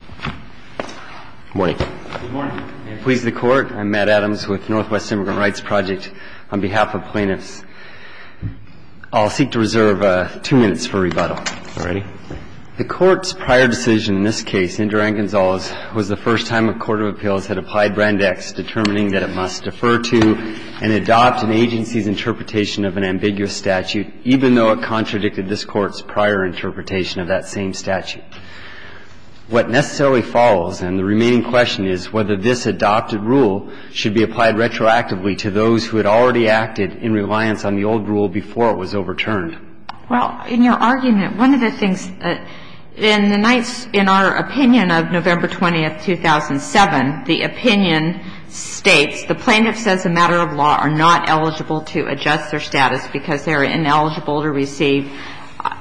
Good morning. May it please the Court, I'm Matt Adams with Northwest Immigrant Rights Project. On behalf of plaintiffs, I'll seek to reserve two minutes for rebuttal. The Court's prior decision in this case, Indira Gonzalez, was the first time a Court of Appeals had applied Brand X, determining that it must defer to and adopt an agency's interpretation of an ambiguous statute, even though it contradicted this Court's prior interpretation of that same statute. What necessarily follows, and the remaining question is whether this adopted rule should be applied retroactively to those who had already acted in reliance on the old rule before it was overturned. Well, in your argument, one of the things that in the Knights, in our opinion of November 20, 2007, the opinion states the plaintiffs as a matter of law are not eligible to adjust their status because they're ineligible to receive an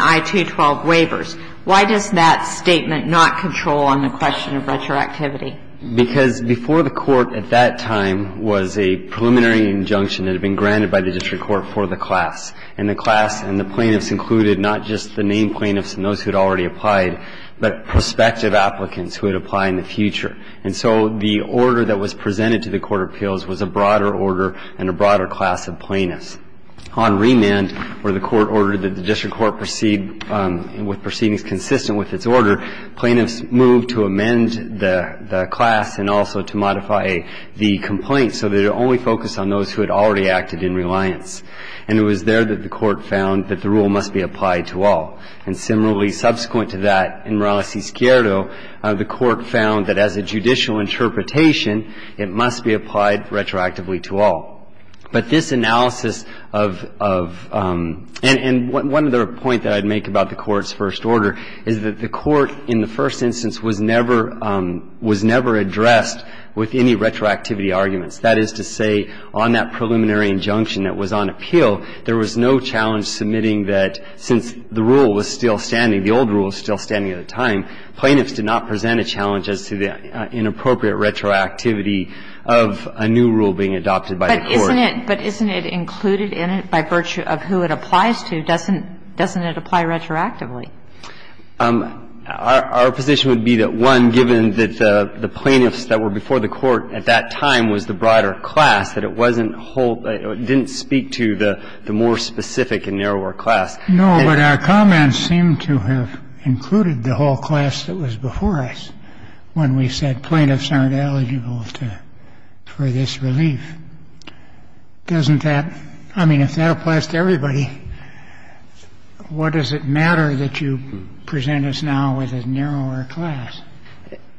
I-212 waivers. Why does that statement not control on the question of retroactivity? Because before the Court at that time was a preliminary injunction that had been granted by the District Court for the class. And the class and the plaintiffs included not just the named plaintiffs and those who had already applied, but prospective applicants who would apply in the future. And so the order that was presented to the Court of Appeals was a broader order and a broader class of plaintiffs. On remand, where the Court ordered that the District Court proceed with proceedings consistent with its order, plaintiffs moved to amend the class and also to modify the complaint so that it only focused on those who had already acted in reliance. And it was there that the Court found that the rule must be applied to all. And similarly, subsequent to that, in Morales y Squierdo, the Court found that as a judicial interpretation, it must be applied retroactively to all. But this analysis of — and one other point that I'd make about the Court's first order is that the Court, in the first instance, was never — was never addressed with any retroactivity arguments. That is to say, on that preliminary injunction that was on appeal, there was no challenge submitting that since the rule was still standing, the old rule was still standing at the time, plaintiffs did not present a challenge as to the inappropriate retroactivity of a new rule being adopted by the Court. But isn't it — but isn't it included in it by virtue of who it applies to? Doesn't it apply retroactively? Our position would be that, one, given that the plaintiffs that were before the Court at that time was the broader class, that it wasn't whole — didn't speak to the more specific and narrower class. No, but our comments seem to have included the whole class that was before us when we said plaintiffs aren't eligible to — for this relief. Doesn't that — I mean, if that applies to everybody, what does it matter that you present us now with a narrower class?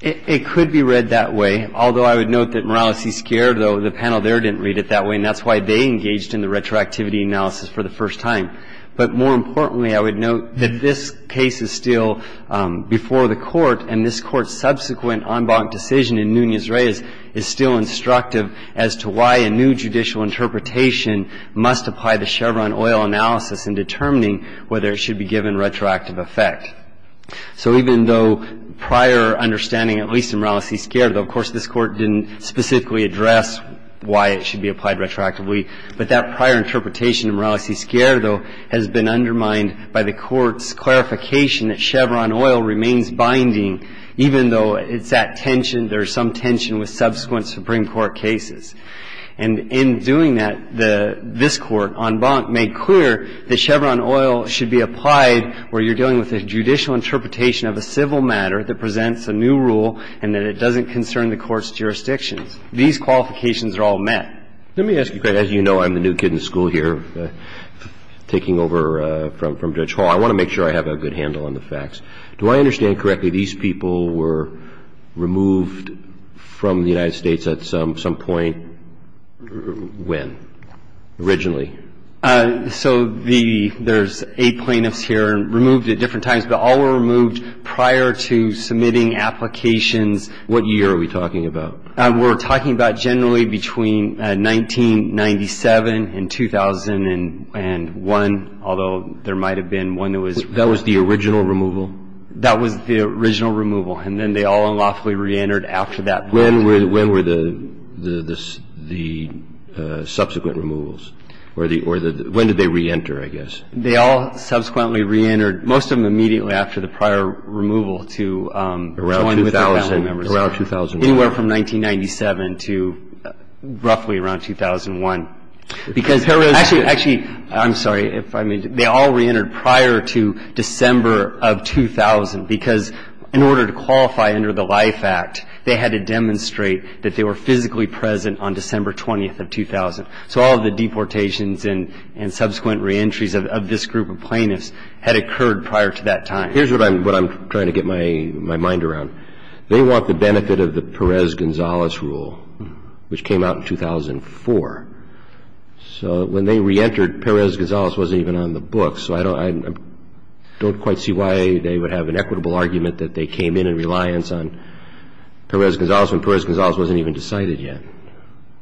It could be read that way. Although I would note that Morales y Squierdo, the panel there didn't read it that way, and that's why they engaged in the retroactivity analysis for the first time. But more importantly, I would note that this case is still before the Court, and this Court's subsequent en banc decision in Nunez-Reyes is still instructive as to why a new judicial interpretation must apply the Chevron oil analysis in determining whether it should be given retroactive effect. So even though prior understanding, at least in Morales y Squierdo — of course, this Court didn't specifically address why it should be applied retroactively, but that prior interpretation in Morales y Squierdo has been undermined by the Court's clarification that Chevron oil remains binding even though it's at tension, there's some tension with subsequent Supreme Court cases. And in doing that, the — this Court, en banc, made clear that Chevron oil should be applied where you're dealing with a judicial interpretation of a civil matter that presents a new rule and that it doesn't concern the Court's jurisdictions. These qualifications are all met. Let me ask you, as you know, I'm the new kid in school here, taking over from Judge Hall. I want to make sure I have a good handle on the facts. Do I understand correctly these people were removed from the United States at some point? When? Originally? So the — there's eight plaintiffs here, removed at different times, but all were removed prior to submitting applications. What year are we talking about? We're talking about generally between 1997 and 2001, although there might have been one that was — That was the original removal? That was the original removal. And then they all unlawfully reentered after that point. When were the subsequent removals? Or the — when did they reenter, I guess? They all subsequently reentered, most of them immediately after the prior removal to join with their family members. Around 2001. Anywhere from 1997 to roughly around 2001. Because — Actually, I'm sorry if I made — they all reentered prior to December of 2000, because in order to qualify under the LIFE Act, they had to demonstrate that they were physically present on December 20th of 2000. So all of the deportations and subsequent reentries of this group of plaintiffs had occurred prior to that time. Here's what I'm trying to get my mind around. They want the benefit of the Perez-Gonzalez rule, which came out in 2004. So when they reentered, Perez-Gonzalez wasn't even on the books. So I don't quite see why they would have an equitable argument that they came in in reliance on Perez-Gonzalez when Perez-Gonzalez wasn't even decided yet.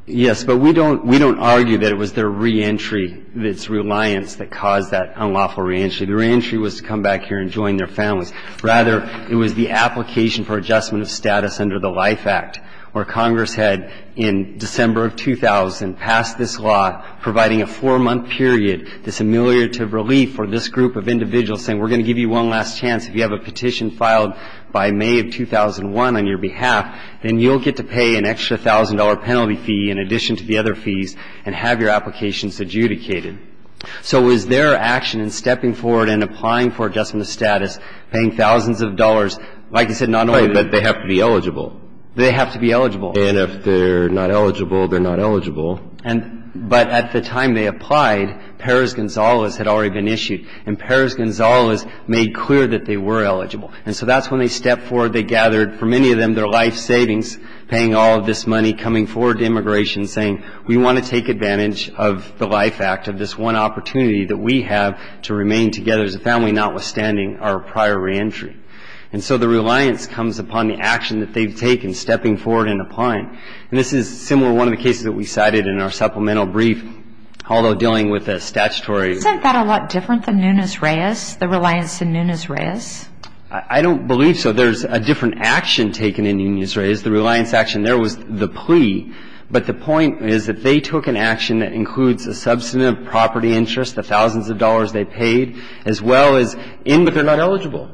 Yes, but we don't argue that it was their reentry, its reliance that caused that unlawful reentry. The reentry was to come back here and join their families. Rather, it was the application for adjustment of status under the LIFE Act, where Congress had, in December of 2000, passed this law providing a four-month period, this ameliorative relief for this group of individuals, saying we're going to give you one last chance. If you have a petition filed by May of 2001 on your behalf, then you'll get to pay an extra $1,000 penalty fee in addition to the other fees and have your applications adjudicated. So it was their action in stepping forward and applying for adjustment of status, paying thousands of dollars. Like I said, not only the ---- Right. But they have to be eligible. They have to be eligible. And if they're not eligible, they're not eligible. And but at the time they applied, Perez-Gonzalez had already been issued. And Perez-Gonzalez made clear that they were eligible. And so that's when they stepped forward. They gathered, for many of them, their life savings, paying all of this money, coming forward to immigration, saying we want to take advantage of the LIFE Act, of this one opportunity that we have to remain together as a family, notwithstanding our prior reentry. And so the reliance comes upon the action that they've taken, stepping forward and applying. And this is similar to one of the cases that we cited in our supplemental brief, although dealing with a statutory ---- Isn't that a lot different than Nunez-Reyes, the reliance in Nunez-Reyes? I don't believe so. There's a different action taken in Nunez-Reyes. There's the reliance action. There was the plea. But the point is that they took an action that includes a substantive property interest, the thousands of dollars they paid, as well as in ---- But they're not eligible.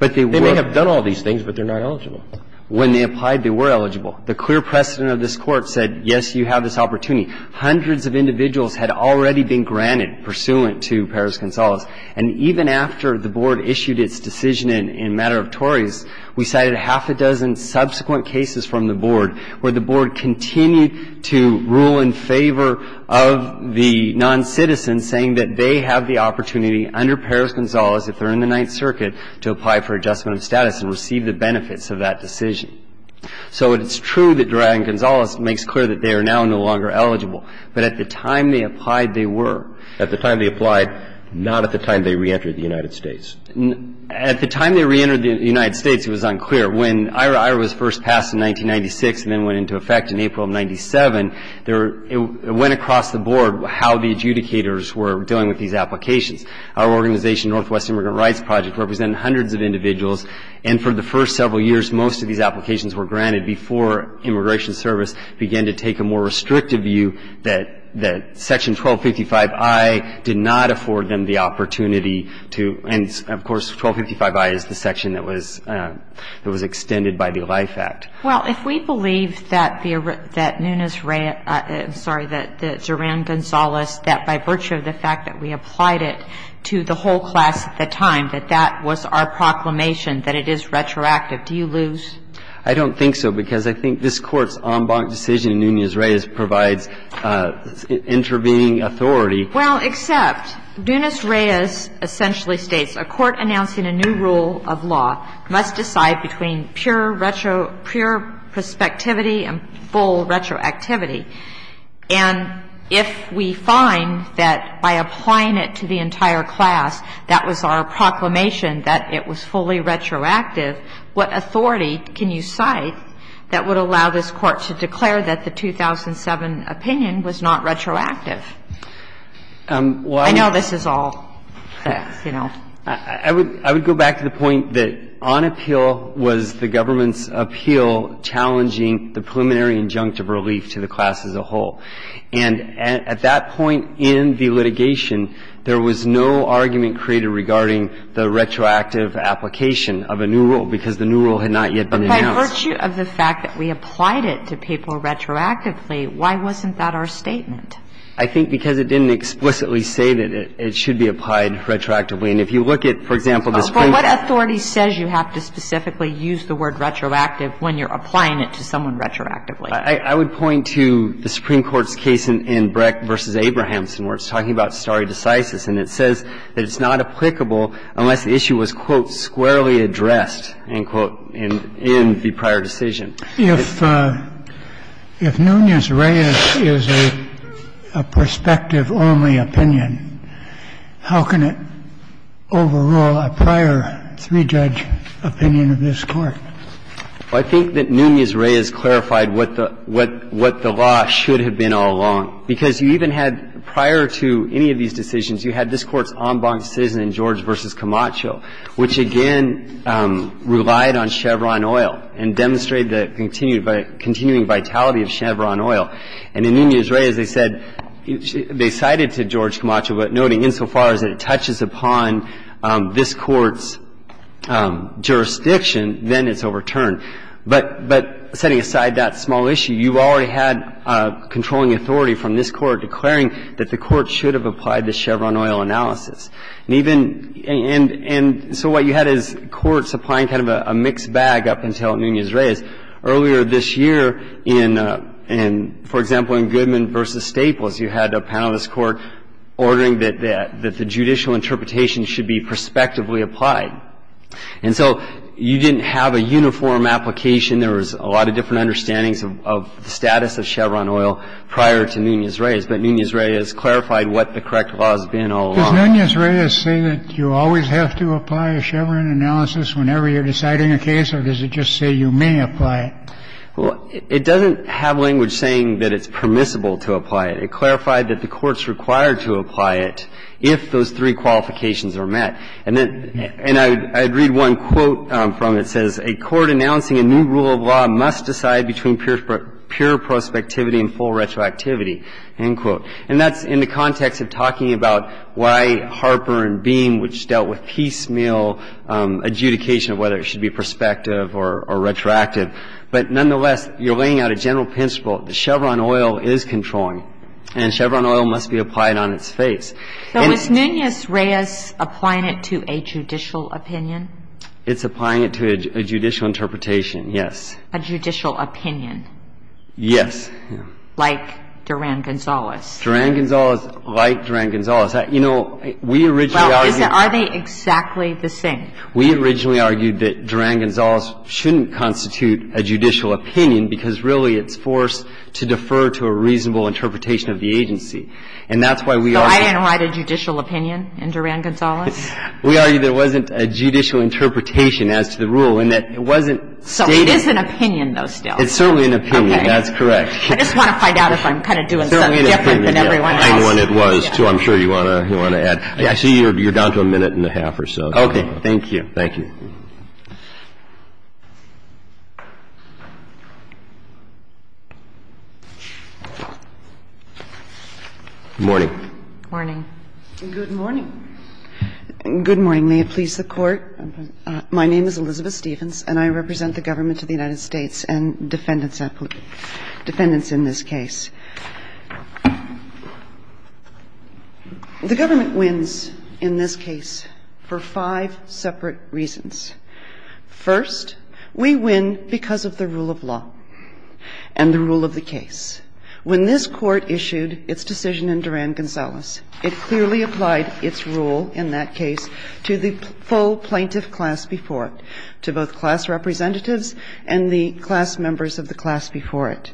But they were. They may have done all these things, but they're not eligible. When they applied, they were eligible. The clear precedent of this Court said, yes, you have this opportunity. Hundreds of individuals had already been granted pursuant to Perez-Gonzalez. And even after the Board issued its decision in a matter of Tories, we cited half a dozen subsequent cases from the Board where the Board continued to rule in favor of the noncitizen, saying that they have the opportunity under Perez-Gonzalez if they're in the Ninth Circuit to apply for adjustment of status and receive the benefits of that decision. So it's true that Duran-Gonzalez makes clear that they are now no longer eligible. But at the time they applied, they were. At the time they applied, not at the time they reentered the United States. At the time they reentered the United States, it was unclear. When IHRA was first passed in 1996 and then went into effect in April of 1997, it went across the Board how the adjudicators were dealing with these applications. Our organization, Northwest Immigrant Rights Project, represented hundreds of individuals. And for the first several years, most of these applications were granted before Immigration Service began to take a more restrictive view that Section 1255I did not afford them the opportunity to – and, of course, 1255I is the section that was extended by the Life Act. Well, if we believe that the – that Nunez-Reyes – I'm sorry, that Duran-Gonzalez, that by virtue of the fact that we applied it to the whole class at the time, that that was our proclamation, that it is retroactive, do you lose? I don't think so, because I think this Court's en banc decision in Nunez-Reyes provides intervening authority. Well, except Nunez-Reyes essentially states, a court announcing a new rule of law must decide between pure retrospectivity and full retroactivity. And if we find that by applying it to the entire class that was our proclamation that it was fully retroactive, what authority can you cite that would allow this Court to declare that the 2007 opinion was not retroactive? I know this is all facts, you know. I would go back to the point that on appeal was the government's appeal challenging the preliminary injunctive relief to the class as a whole. And at that point in the litigation, there was no argument created regarding the retroactive application of a new rule, because the new rule had not yet been announced. But by virtue of the fact that we applied it to people retroactively, why wasn't that our statement? I think because it didn't explicitly say that it should be applied retroactively. And if you look at, for example, the Supreme Court's case in Breck v. Abrahamson, where it's talking about stare decisis, and it says that it's not applicable unless the issue was, quote, squarely addressed, end quote, in the prior decision. If Nunez-Reyes is a perspective-only opinion, how can it overrule a prior three-judge opinion of this Court? Well, I think that Nunez-Reyes clarified what the law should have been all along, because you even had, prior to any of these decisions, you had this Court's en banc decision in George v. Camacho, which, again, relied on Chevron oil and demonstrated the continuing vitality of Chevron oil. And in Nunez-Reyes, they said they cited to George Camacho, but noting insofar as it touches upon this Court's jurisdiction, then it's overturned. But setting aside that small issue, you already had controlling authority from this Court declaring that the Court should have applied the Chevron oil analysis. And even – and so what you had is courts applying kind of a mixed bag up until Nunez-Reyes. Earlier this year, in – for example, in Goodman v. Staples, you had a panel of this Court ordering that the judicial interpretation should be prospectively applied. And so you didn't have a uniform application. There was a lot of different understandings of the status of Chevron oil prior to Nunez-Reyes. But Nunez-Reyes clarified what the correct law has been all along. Does Nunez-Reyes say that you always have to apply a Chevron analysis whenever you're deciding a case, or does it just say you may apply it? Well, it doesn't have language saying that it's permissible to apply it. It clarified that the Court's required to apply it if those three qualifications are met. And then – and I'd read one quote from it. It says, A court announcing a new rule of law must decide between pure prospectivity and full retroactivity, end quote. And that's in the context of talking about why Harper and Beam, which dealt with piecemeal adjudication of whether it should be prospective or retroactive. But nonetheless, you're laying out a general principle that Chevron oil is controlling and Chevron oil must be applied on its face. So is Nunez-Reyes applying it to a judicial opinion? It's applying it to a judicial interpretation, yes. A judicial opinion? Yes. Like Duran-Gonzalez. Duran-Gonzalez, like Duran-Gonzalez. You know, we originally argued – Well, is it – are they exactly the same? We originally argued that Duran-Gonzalez shouldn't constitute a judicial opinion because, really, it's forced to defer to a reasonable interpretation of the agency. And that's why we argue – So I didn't write a judicial opinion in Duran-Gonzalez? We argue there wasn't a judicial interpretation as to the rule and that it wasn't stated So it is an opinion, though, still. It's certainly an opinion. That's correct. I just want to find out if I'm kind of doing something different than everyone else. I know what it was, too. I'm sure you want to add. I see you're down to a minute and a half or so. Okay. Thank you. Thank you. Good morning. Good morning. Good morning. Good morning. Good morning. May it please the Court. My name is Elizabeth Stevens, and I represent the government of the United States and defendants in this case. The government wins in this case for five separate reasons. First, we win because of the rule of law and the rule of the case. When this Court issued its decision in Duran-Gonzalez, it clearly applied its rule in that case to the full plaintiff class before it, to both class representatives and the class members of the class before it.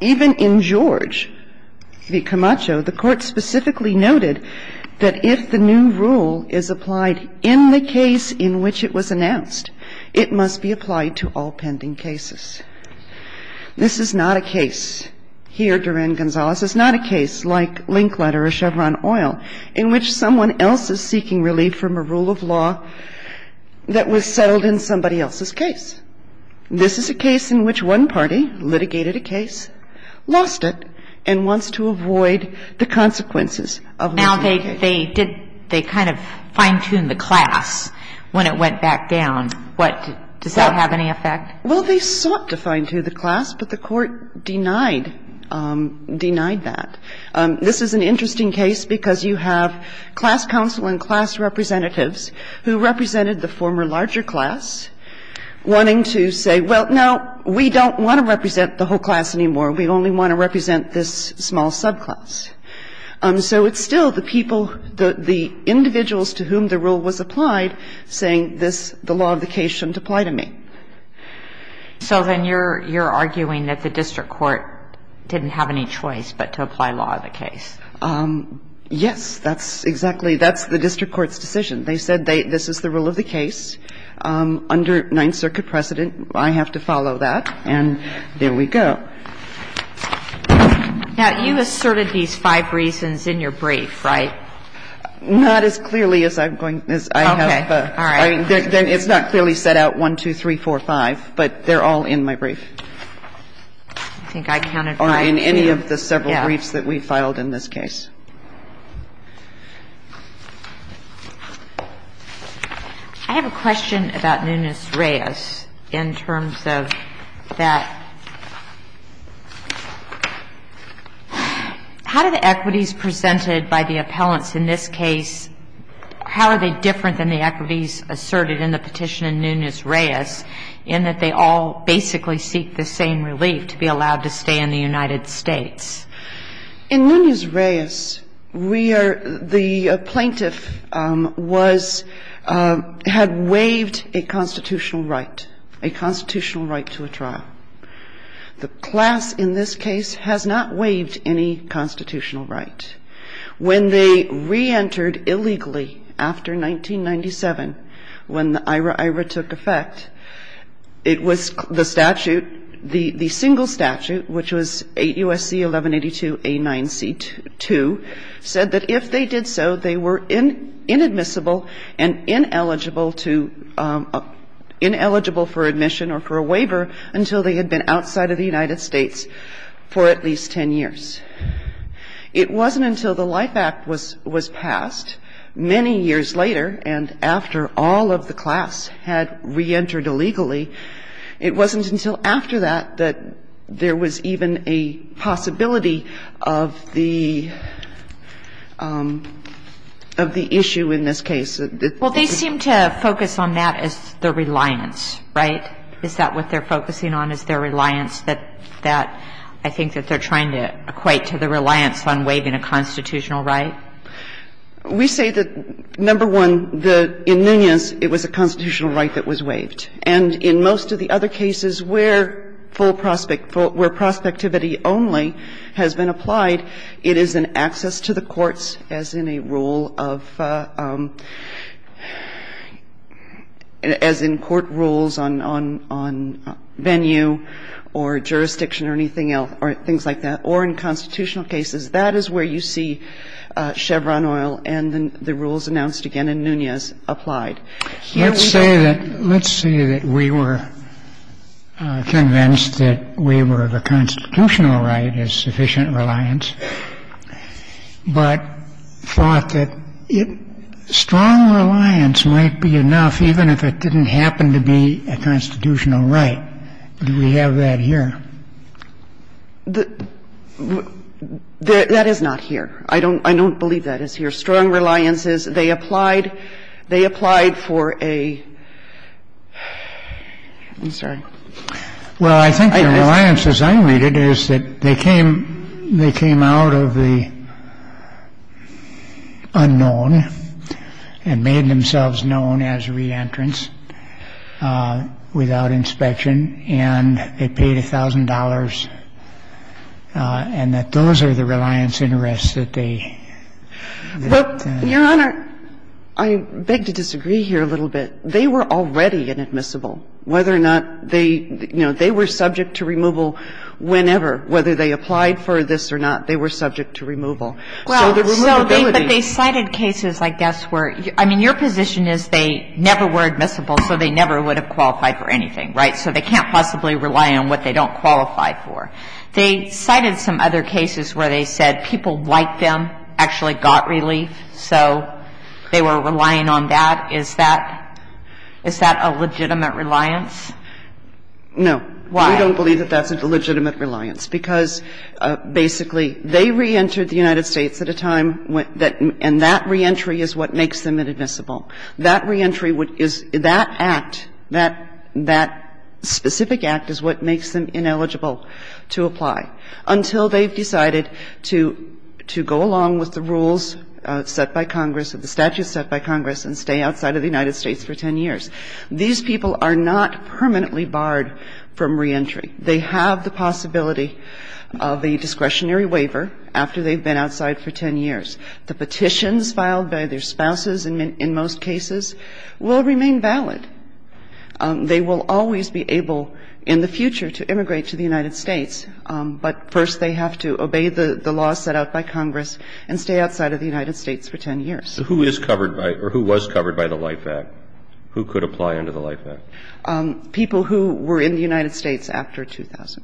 Even in George v. Camacho, the Court specifically noted that if the new rule is applied in the case in which it was announced, it must be applied to all pending cases. This is not a case here, Duran-Gonzalez. It's not a case like Linkletter or Chevron Oil in which someone else is seeking relief from a rule of law that was settled in somebody else's case. This is a case in which one party litigated a case, lost it, and wants to avoid the consequences of litigation. Now, they did they kind of fine-tuned the class when it went back down. What? Does that have any effect? Well, they sought to fine-tune the class, but the Court denied that. This is an interesting case because you have class counsel and class representatives who represented the former larger class wanting to say, well, no, we don't want to represent the whole class anymore. We only want to represent this small subclass. So it's still the people, the individuals to whom the rule was applied, saying this, the law of the case shouldn't apply to me. So then you're arguing that the district court didn't have any choice but to apply law to the case. Yes. That's exactly the district court's decision. They said this is the rule of the case under Ninth Circuit precedent. I have to follow that, and there we go. Now, you asserted these five reasons in your brief, right? Not as clearly as I have. Okay. All right. Then it's not clearly set out 1, 2, 3, 4, 5, but they're all in my brief. I think I counted five, too. Or in any of the several briefs that we filed in this case. I have a question about Nunez-Reyes in terms of that. How do the equities presented by the appellants in this case, how are they different than the equities asserted in the petition in Nunez-Reyes in that they all basically seek the same relief to be allowed to stay in the United States? In Nunez-Reyes, we are the plaintiff was, had waived a constitutional right, a constitutional right to a trial. The class in this case has not waived any constitutional right. When they reentered illegally after 1997, when the IRA-IRA took effect, it was the statute, the single statute, which was 8 U.S.C. 1182A9C2, said that if they did so, they were inadmissible and ineligible to, ineligible for admission or for a waiver until they had been outside of the United States for at least 10 years. It wasn't until the Life Act was passed many years later and after all of the class had reentered illegally, it wasn't until after that that there was even a possibility of the issue in this case. Well, they seem to focus on that as the reliance, right? Is that what they're focusing on, is their reliance that I think that they're trying to equate to the reliance on waiving a constitutional right? We say that, number one, in Nunez, it was a constitutional right that was waived. And in most of the other cases where full prospect, where prospectivity only has been applied, it is an access to the courts as in a rule of, as in court rules on venue or jurisdiction or anything else or things like that. Or in constitutional cases, that is where you see Chevron Oil and the rules announced again in Nunez applied. Let's say that we were convinced that waiver of a constitutional right is sufficient reliance, but thought that strong reliance might be enough even if it didn't happen to be a constitutional right. Do we have that here? That is not here. I don't believe that is here. Strong reliance is they applied for a, I'm sorry. Well, I think the reliance, as I read it, is that they came out of the unknown and made themselves known as re-entrants without inspection and they paid $1,000 and that those are the reliance interests that they. Well, Your Honor, I beg to disagree here a little bit. They were already inadmissible. Whether or not they, you know, they were subject to removal whenever, whether they applied for this or not, they were subject to removal. So the removability. But they cited cases, I guess, where, I mean, your position is they never were admissible so they never would have qualified for anything, right? So they can't possibly rely on what they don't qualify for. They cited some other cases where they said people like them actually got relief so they were relying on that. Is that a legitimate reliance? No. Why? We don't believe that that's a legitimate reliance because basically they re-entered the United States at a time when that, and that re-entry is what makes them inadmissible. That re-entry is, that act, that specific act is what makes them ineligible to apply until they've decided to go along with the rules set by Congress, the statutes set by Congress, and stay outside of the United States for 10 years. These people are not permanently barred from re-entry. They have the possibility of a discretionary waiver after they've been outside for 10 years. The petitions filed by their spouses in most cases will remain valid. They will always be able in the future to immigrate to the United States, but first they have to obey the law set out by Congress and stay outside of the United States for 10 years. So who is covered by, or who was covered by the LIFE Act? Who could apply under the LIFE Act? The people who were in the United States after 2000.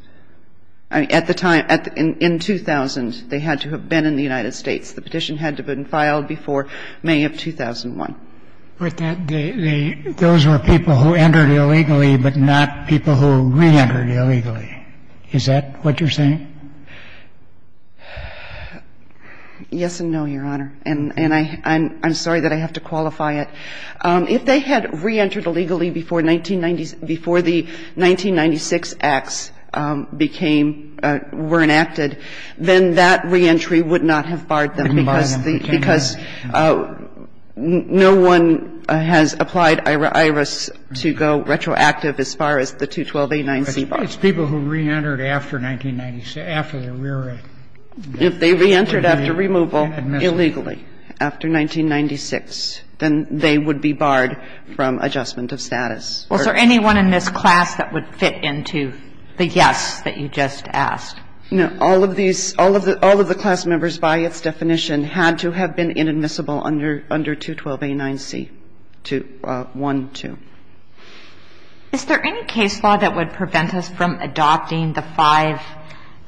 I mean, at the time, in 2000, they had to have been in the United States. The petition had to have been filed before May of 2001. But those were people who entered illegally but not people who re-entered illegally. Is that what you're saying? Yes and no, Your Honor. And I'm sorry that I have to qualify it. If they had re-entered illegally before 1996, before the 1996 acts became, were enacted, then that re-entry would not have barred them because the, because no one has applied IRS to go retroactive as far as the 212A9C bar. But it's people who re-entered after 1996, after the rear end. If they re-entered after removal illegally, after 1996, then they would be barred from adjustment of status. Was there anyone in this class that would fit into the yes that you just asked? No. All of these, all of the class members by its definition had to have been inadmissible under 212A9C, 212. Is there any case law that would prevent us from adopting the five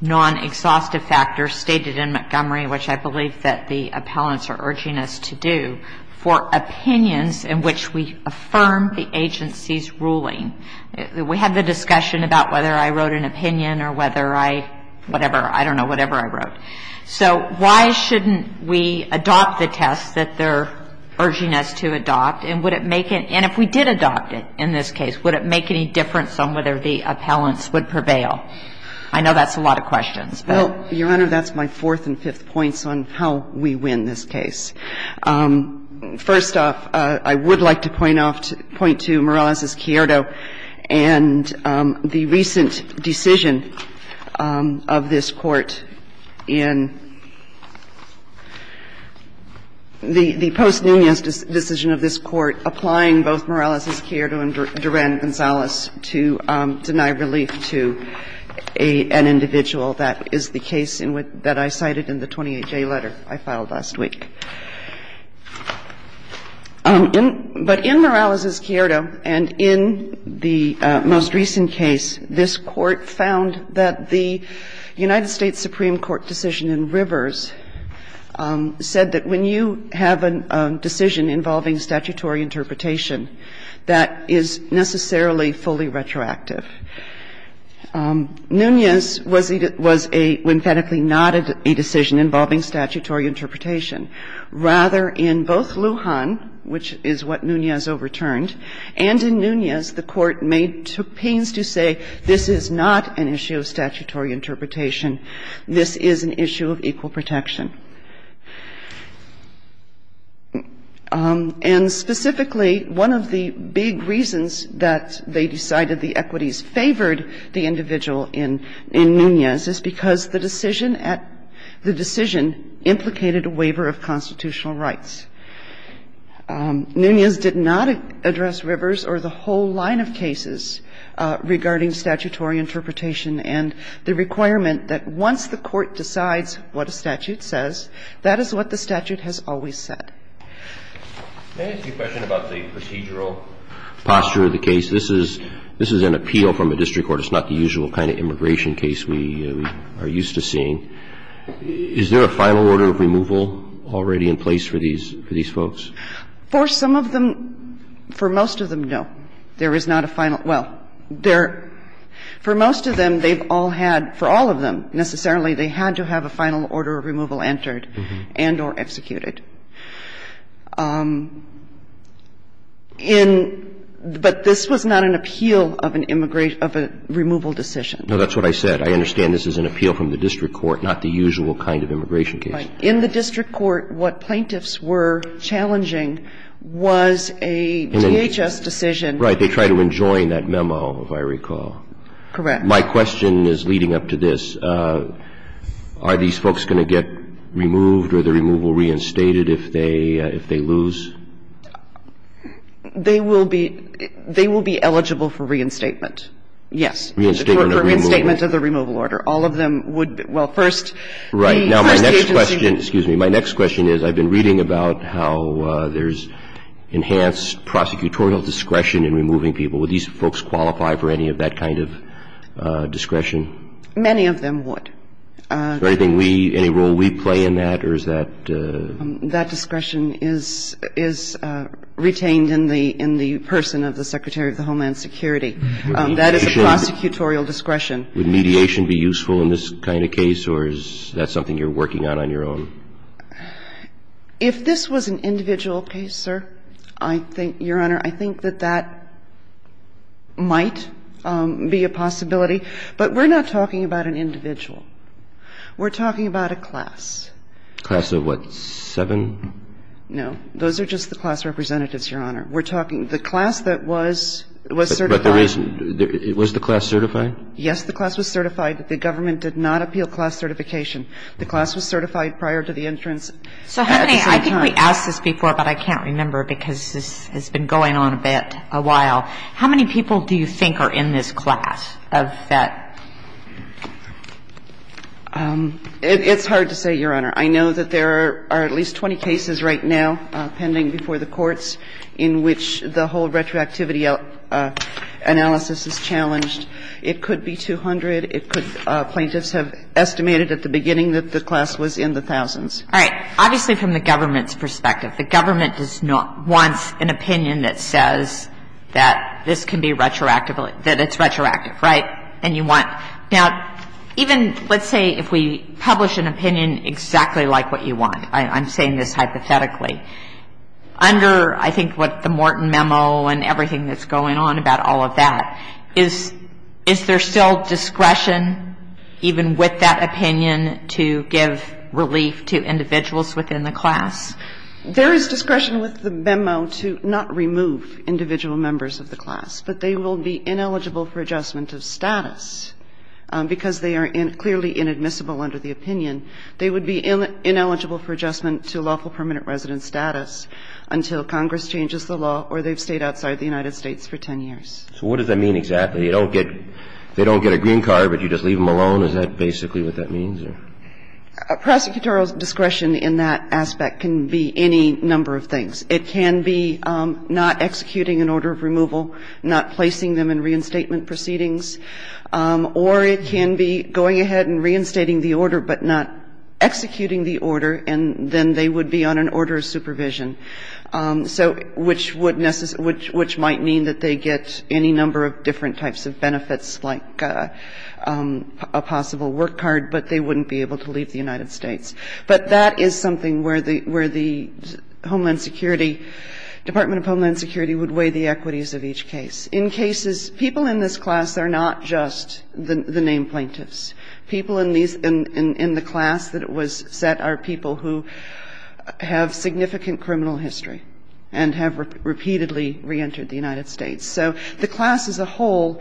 non-exhaustive factors stated in Montgomery, which I believe that the appellants are urging us to do, for opinions in which we affirm the agency's ruling? We had the discussion about whether I wrote an opinion or whether I, whatever, I don't know, whatever I wrote. So why shouldn't we adopt the test that they're urging us to adopt? And would it make it – and if we did adopt it in this case, would it make any difference on whether the appellants would prevail? I know that's a lot of questions, but. Well, Your Honor, that's my fourth and fifth points on how we win this case. First off, I would like to point off to – point to Morales' Chiodo and the recent decision of this Court in – the post-Nunez decision of this Court in which the Supreme Court applying both Morales' Chiodo and Duran-Gonzalez to deny relief to an individual that is the case that I cited in the 28-J letter I filed last week. But in Morales' Chiodo and in the most recent case, this Court found that the United States Supreme Court decision in Rivers said that when you have a decision involving statutory interpretation, that is necessarily fully retroactive. Nunez was a – emphatically not a decision involving statutory interpretation. Rather, in both Lujan, which is what Nunez overturned, and in Nunez, the Court made – took pains to say this is not an issue of statutory interpretation. This is an issue of equal protection. And specifically, one of the big reasons that they decided the equities favored the individual in Nunez is because the decision at – the decision implicated a waiver of constitutional rights. Nunez did not address Rivers or the whole line of cases regarding statutory interpretation. And the requirement that once the Court decides what a statute says, that is what the statute has always said. Can I ask you a question about the procedural posture of the case? This is – this is an appeal from a district court. It's not the usual kind of immigration case we are used to seeing. Is there a final order of removal already in place for these – for these folks? For some of them – for most of them, no. There is not a final – well, there – for most of them, they've all had – for all of them, necessarily, they had to have a final order of removal entered and or executed. In – but this was not an appeal of an immigration – of a removal decision. No, that's what I said. I understand this is an appeal from the district court, not the usual kind of immigration case. Right. In the district court, what plaintiffs were challenging was a DHS decision. Right. They tried to enjoin that memo, if I recall. Correct. My question is leading up to this. Are these folks going to get removed or the removal reinstated if they – if they lose? They will be – they will be eligible for reinstatement, yes. Reinstatement of the removal. Reinstatement of the removal order. All of them would – well, first, the first agency would be. Excuse me. My next question is I've been reading about how there's enhanced prosecutorial discretion in removing people. Would these folks qualify for any of that kind of discretion? Many of them would. Anything we – any role we play in that or is that? That discretion is – is retained in the – in the person of the Secretary of the Homeland Security. That is a prosecutorial discretion. Would mediation be useful in this kind of case or is that something you're working on on your own? If this was an individual case, sir, I think, Your Honor, I think that that might be a possibility. But we're not talking about an individual. We're talking about a class. Class of what, seven? No. Those are just the class representatives, Your Honor. We're talking – the class that was – was certified. But the reason – was the class certified? Yes, the class was certified. The government did not appeal class certification. The class was certified prior to the entrance at the same time. So how many – I think we asked this before, but I can't remember because this has been going on a bit, a while. How many people do you think are in this class of that? It's hard to say, Your Honor. I know that there are at least 20 cases right now pending before the courts in which the whole retroactivity analysis is challenged. It could be 200. It could – plaintiffs have estimated at the beginning that the class was in the thousands. All right. Obviously, from the government's perspective, the government does not – wants an opinion that says that this can be retroactively – that it's retroactive, right? And you want – now, even, let's say, if we publish an opinion exactly like what you want, I'm saying this hypothetically. Under, I think, what the Morton memo and everything that's going on about all of that, is there still discretion even with that opinion to give relief to individuals within the class? There is discretion with the memo to not remove individual members of the class, but they will be ineligible for adjustment of status because they are clearly inadmissible under the opinion. They would be ineligible for adjustment to lawful permanent resident status until Congress changes the law or they've stayed outside the United States for 10 years. So what does that mean exactly? You don't get – they don't get a green card, but you just leave them alone? Is that basically what that means? Prosecutorial discretion in that aspect can be any number of things. It can be not executing an order of removal, not placing them in reinstatement proceedings, or it can be going ahead and reinstating the order but not executing So which would – which might mean that they get any number of different types of benefits like a possible work card, but they wouldn't be able to leave the United States. But that is something where the Homeland Security – Department of Homeland Security would weigh the equities of each case. In cases – people in this class are not just the named plaintiffs. People in these – in the class that it was set are people who have significant criminal history and have repeatedly reentered the United States. So the class as a whole,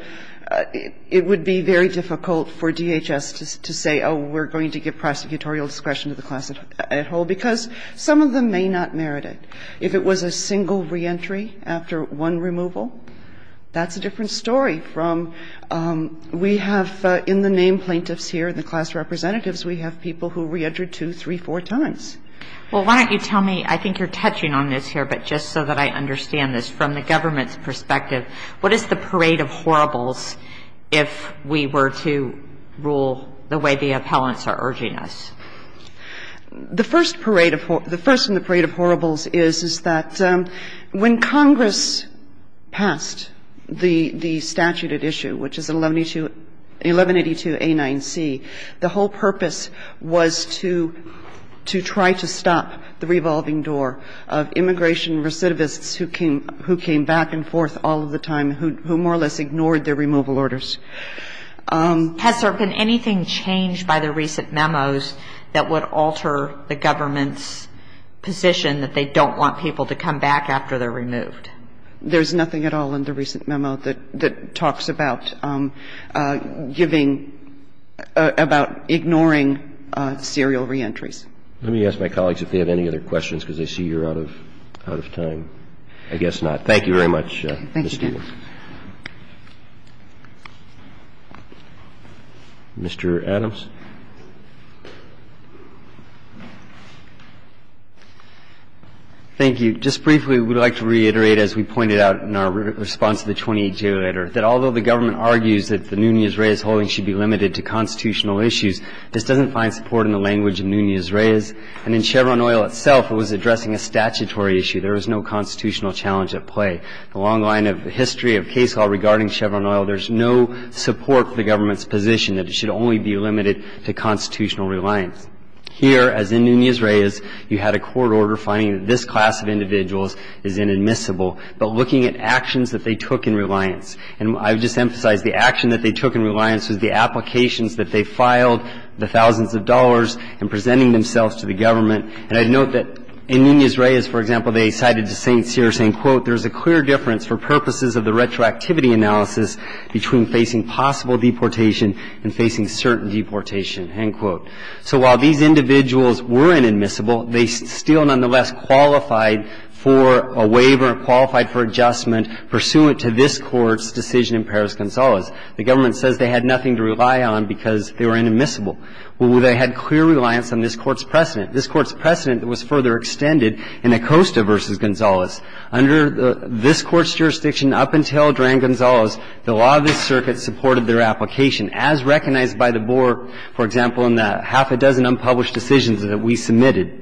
it would be very difficult for DHS to say, oh, we're going to give prosecutorial discretion to the class at whole because some of them may not merit it. If it was a single reentry after one removal, that's a different story from – we have in the named plaintiffs here, the class representatives, we have people who reentered two, three, four times. Well, why don't you tell me – I think you're touching on this here, but just so that I understand this from the government's perspective, what is the parade of horribles if we were to rule the way the appellants are urging us? The first parade of – the first in the parade of horribles is, is that when Congress passed the – the statute at issue, which is 1182 – 1182A9C, the whole purpose was to – to try to stop the revolving door of immigration recidivists who came back and forth all of the time, who more or less ignored their removal orders. Has there been anything changed by the recent memos that would alter the government's position that they don't want people to come back after they're removed? There's nothing at all in the recent memo that – that talks about giving – about ignoring serial reentries. Let me ask my colleagues if they have any other questions, because I see you're out of – out of time. I guess not. Thank you very much, Ms. Stewart. Thank you. Mr. Adams. Thank you. Just briefly, we'd like to reiterate, as we pointed out in our response to the 28-J letter, that although the government argues that the Nunes-Reyes holding should be limited to constitutional issues, this doesn't find support in the language of Nunes-Reyes. And in Chevron Oil itself, it was addressing a statutory issue. There was no constitutional challenge at play. Along the line of the history of case law regarding Chevron Oil, there's no support for the government's position that it should only be limited to constitutional reliance. Here, as in Nunes-Reyes, you had a court order finding that this class of individuals is inadmissible, but looking at actions that they took in reliance. And I would just emphasize the action that they took in reliance was the applications that they filed, the thousands of dollars, and presenting themselves to the government. And I'd note that in Nunes-Reyes, for example, they cited St. Cyr saying, quote, there is a clear difference for purposes of the retroactivity analysis between facing possible deportation and facing certain deportation, end quote. So while these individuals were inadmissible, they still nonetheless qualified for a waiver, qualified for adjustment pursuant to this Court's decision in Perez-Gonzalez. The government says they had nothing to rely on because they were inadmissible. Well, they had clear reliance on this Court's precedent. This Court's precedent was further extended in Acosta v. Gonzalez. Under this Court's jurisdiction up until Duran-Gonzalez, the law of this circuit supported their application as recognized by the board, for example, in the half a dozen unpublished decisions that we submitted.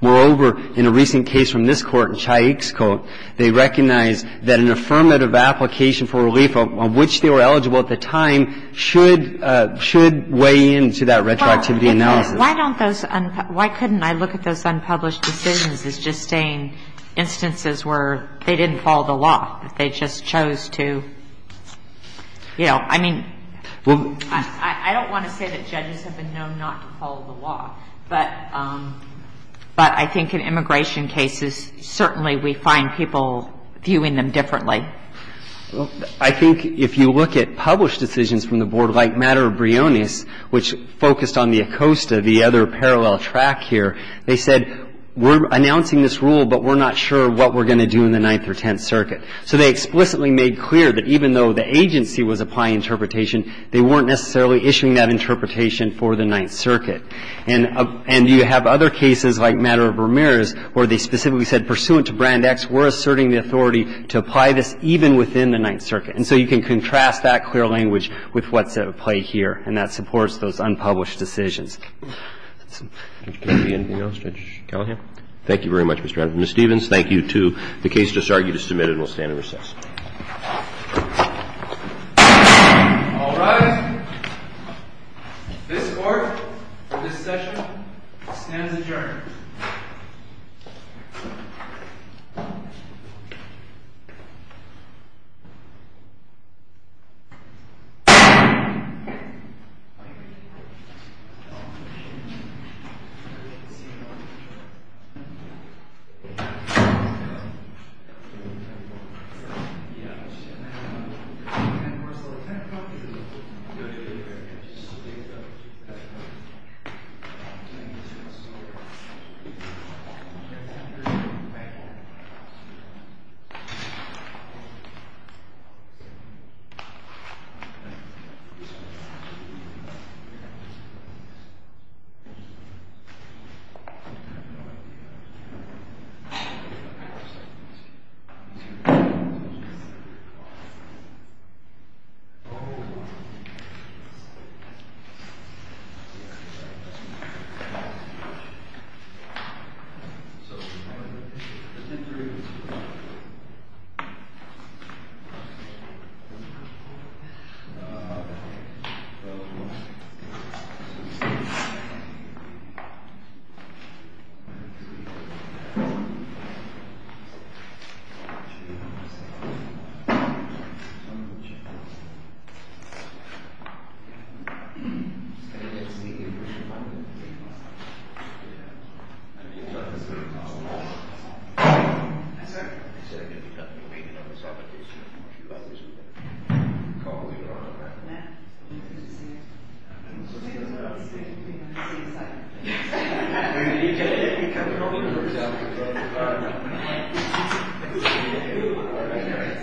Moreover, in a recent case from this Court, in Chaik's Court, they recognized that an affirmative application for relief on which they were eligible at the time should weigh in to that retroactivity analysis. Well, why don't those unpublished ‑‑ why couldn't I look at those unpublished decisions as just saying instances where they didn't follow the law, that they just chose to, you know, I mean, I don't want to say that judges have been known not to follow the law, but I think in immigration cases, certainly we find people viewing them differently. Well, I think if you look at published decisions from the board, like Matter of Briones, which focused on the Acosta, the other parallel track here, they said we're announcing this rule, but we're not sure what we're going to do in the Ninth or Tenth Circuit. So they explicitly made clear that even though the agency was applying interpretation, they weren't necessarily issuing that interpretation for the Ninth Circuit. And you have other cases, like Matter of Ramirez, where they specifically said, pursuant to Brand X, we're asserting the authority to apply this even within the Ninth Circuit. And so you can contrast that clear language with what's at play here, and that supports those unpublished decisions. Mr. Kennedy, anything else? Judge Kelley? Thank you very much, Mr. Chairman. Ms. Stevens, thank you, too. The case just argued is submitted and will stand in recess. All rise. This court, for this session, stands adjourned.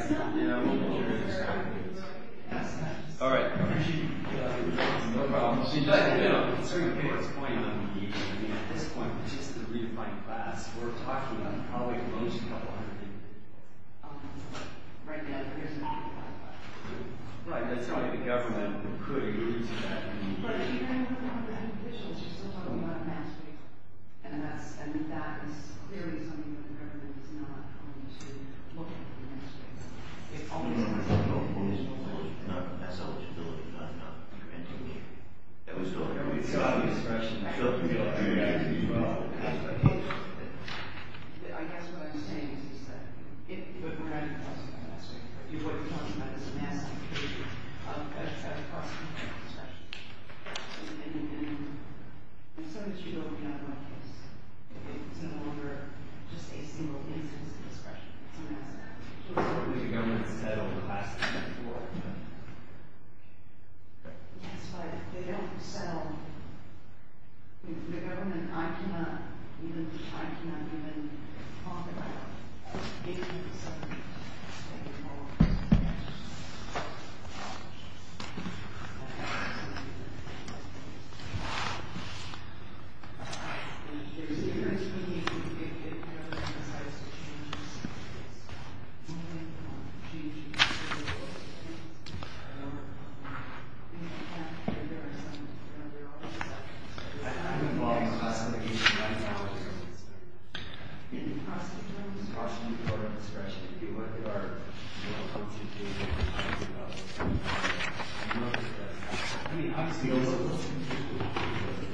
Thank you. Thank you. Thank you.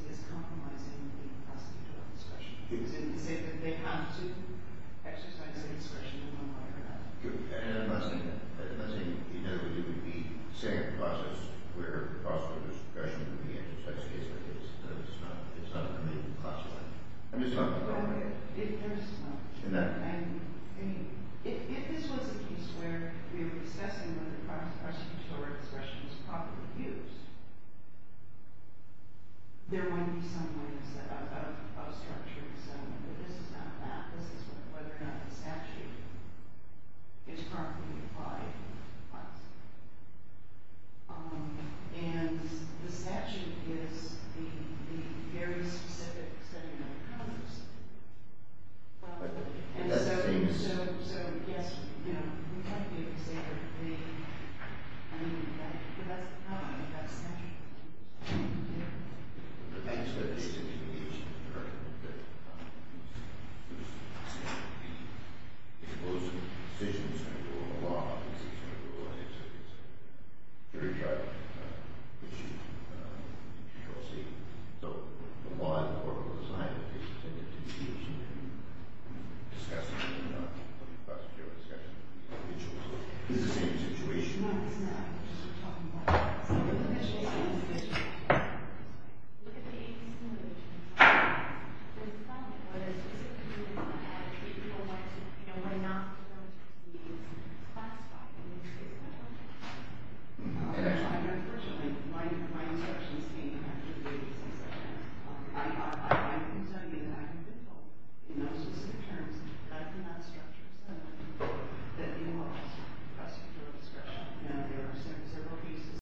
Thank you. Thank you. Thank you. Thank you. Thank you. Thank you. Thank you. Thank you. Thank you. Thank you. Thank you. Thank you. Thank you. Thank you.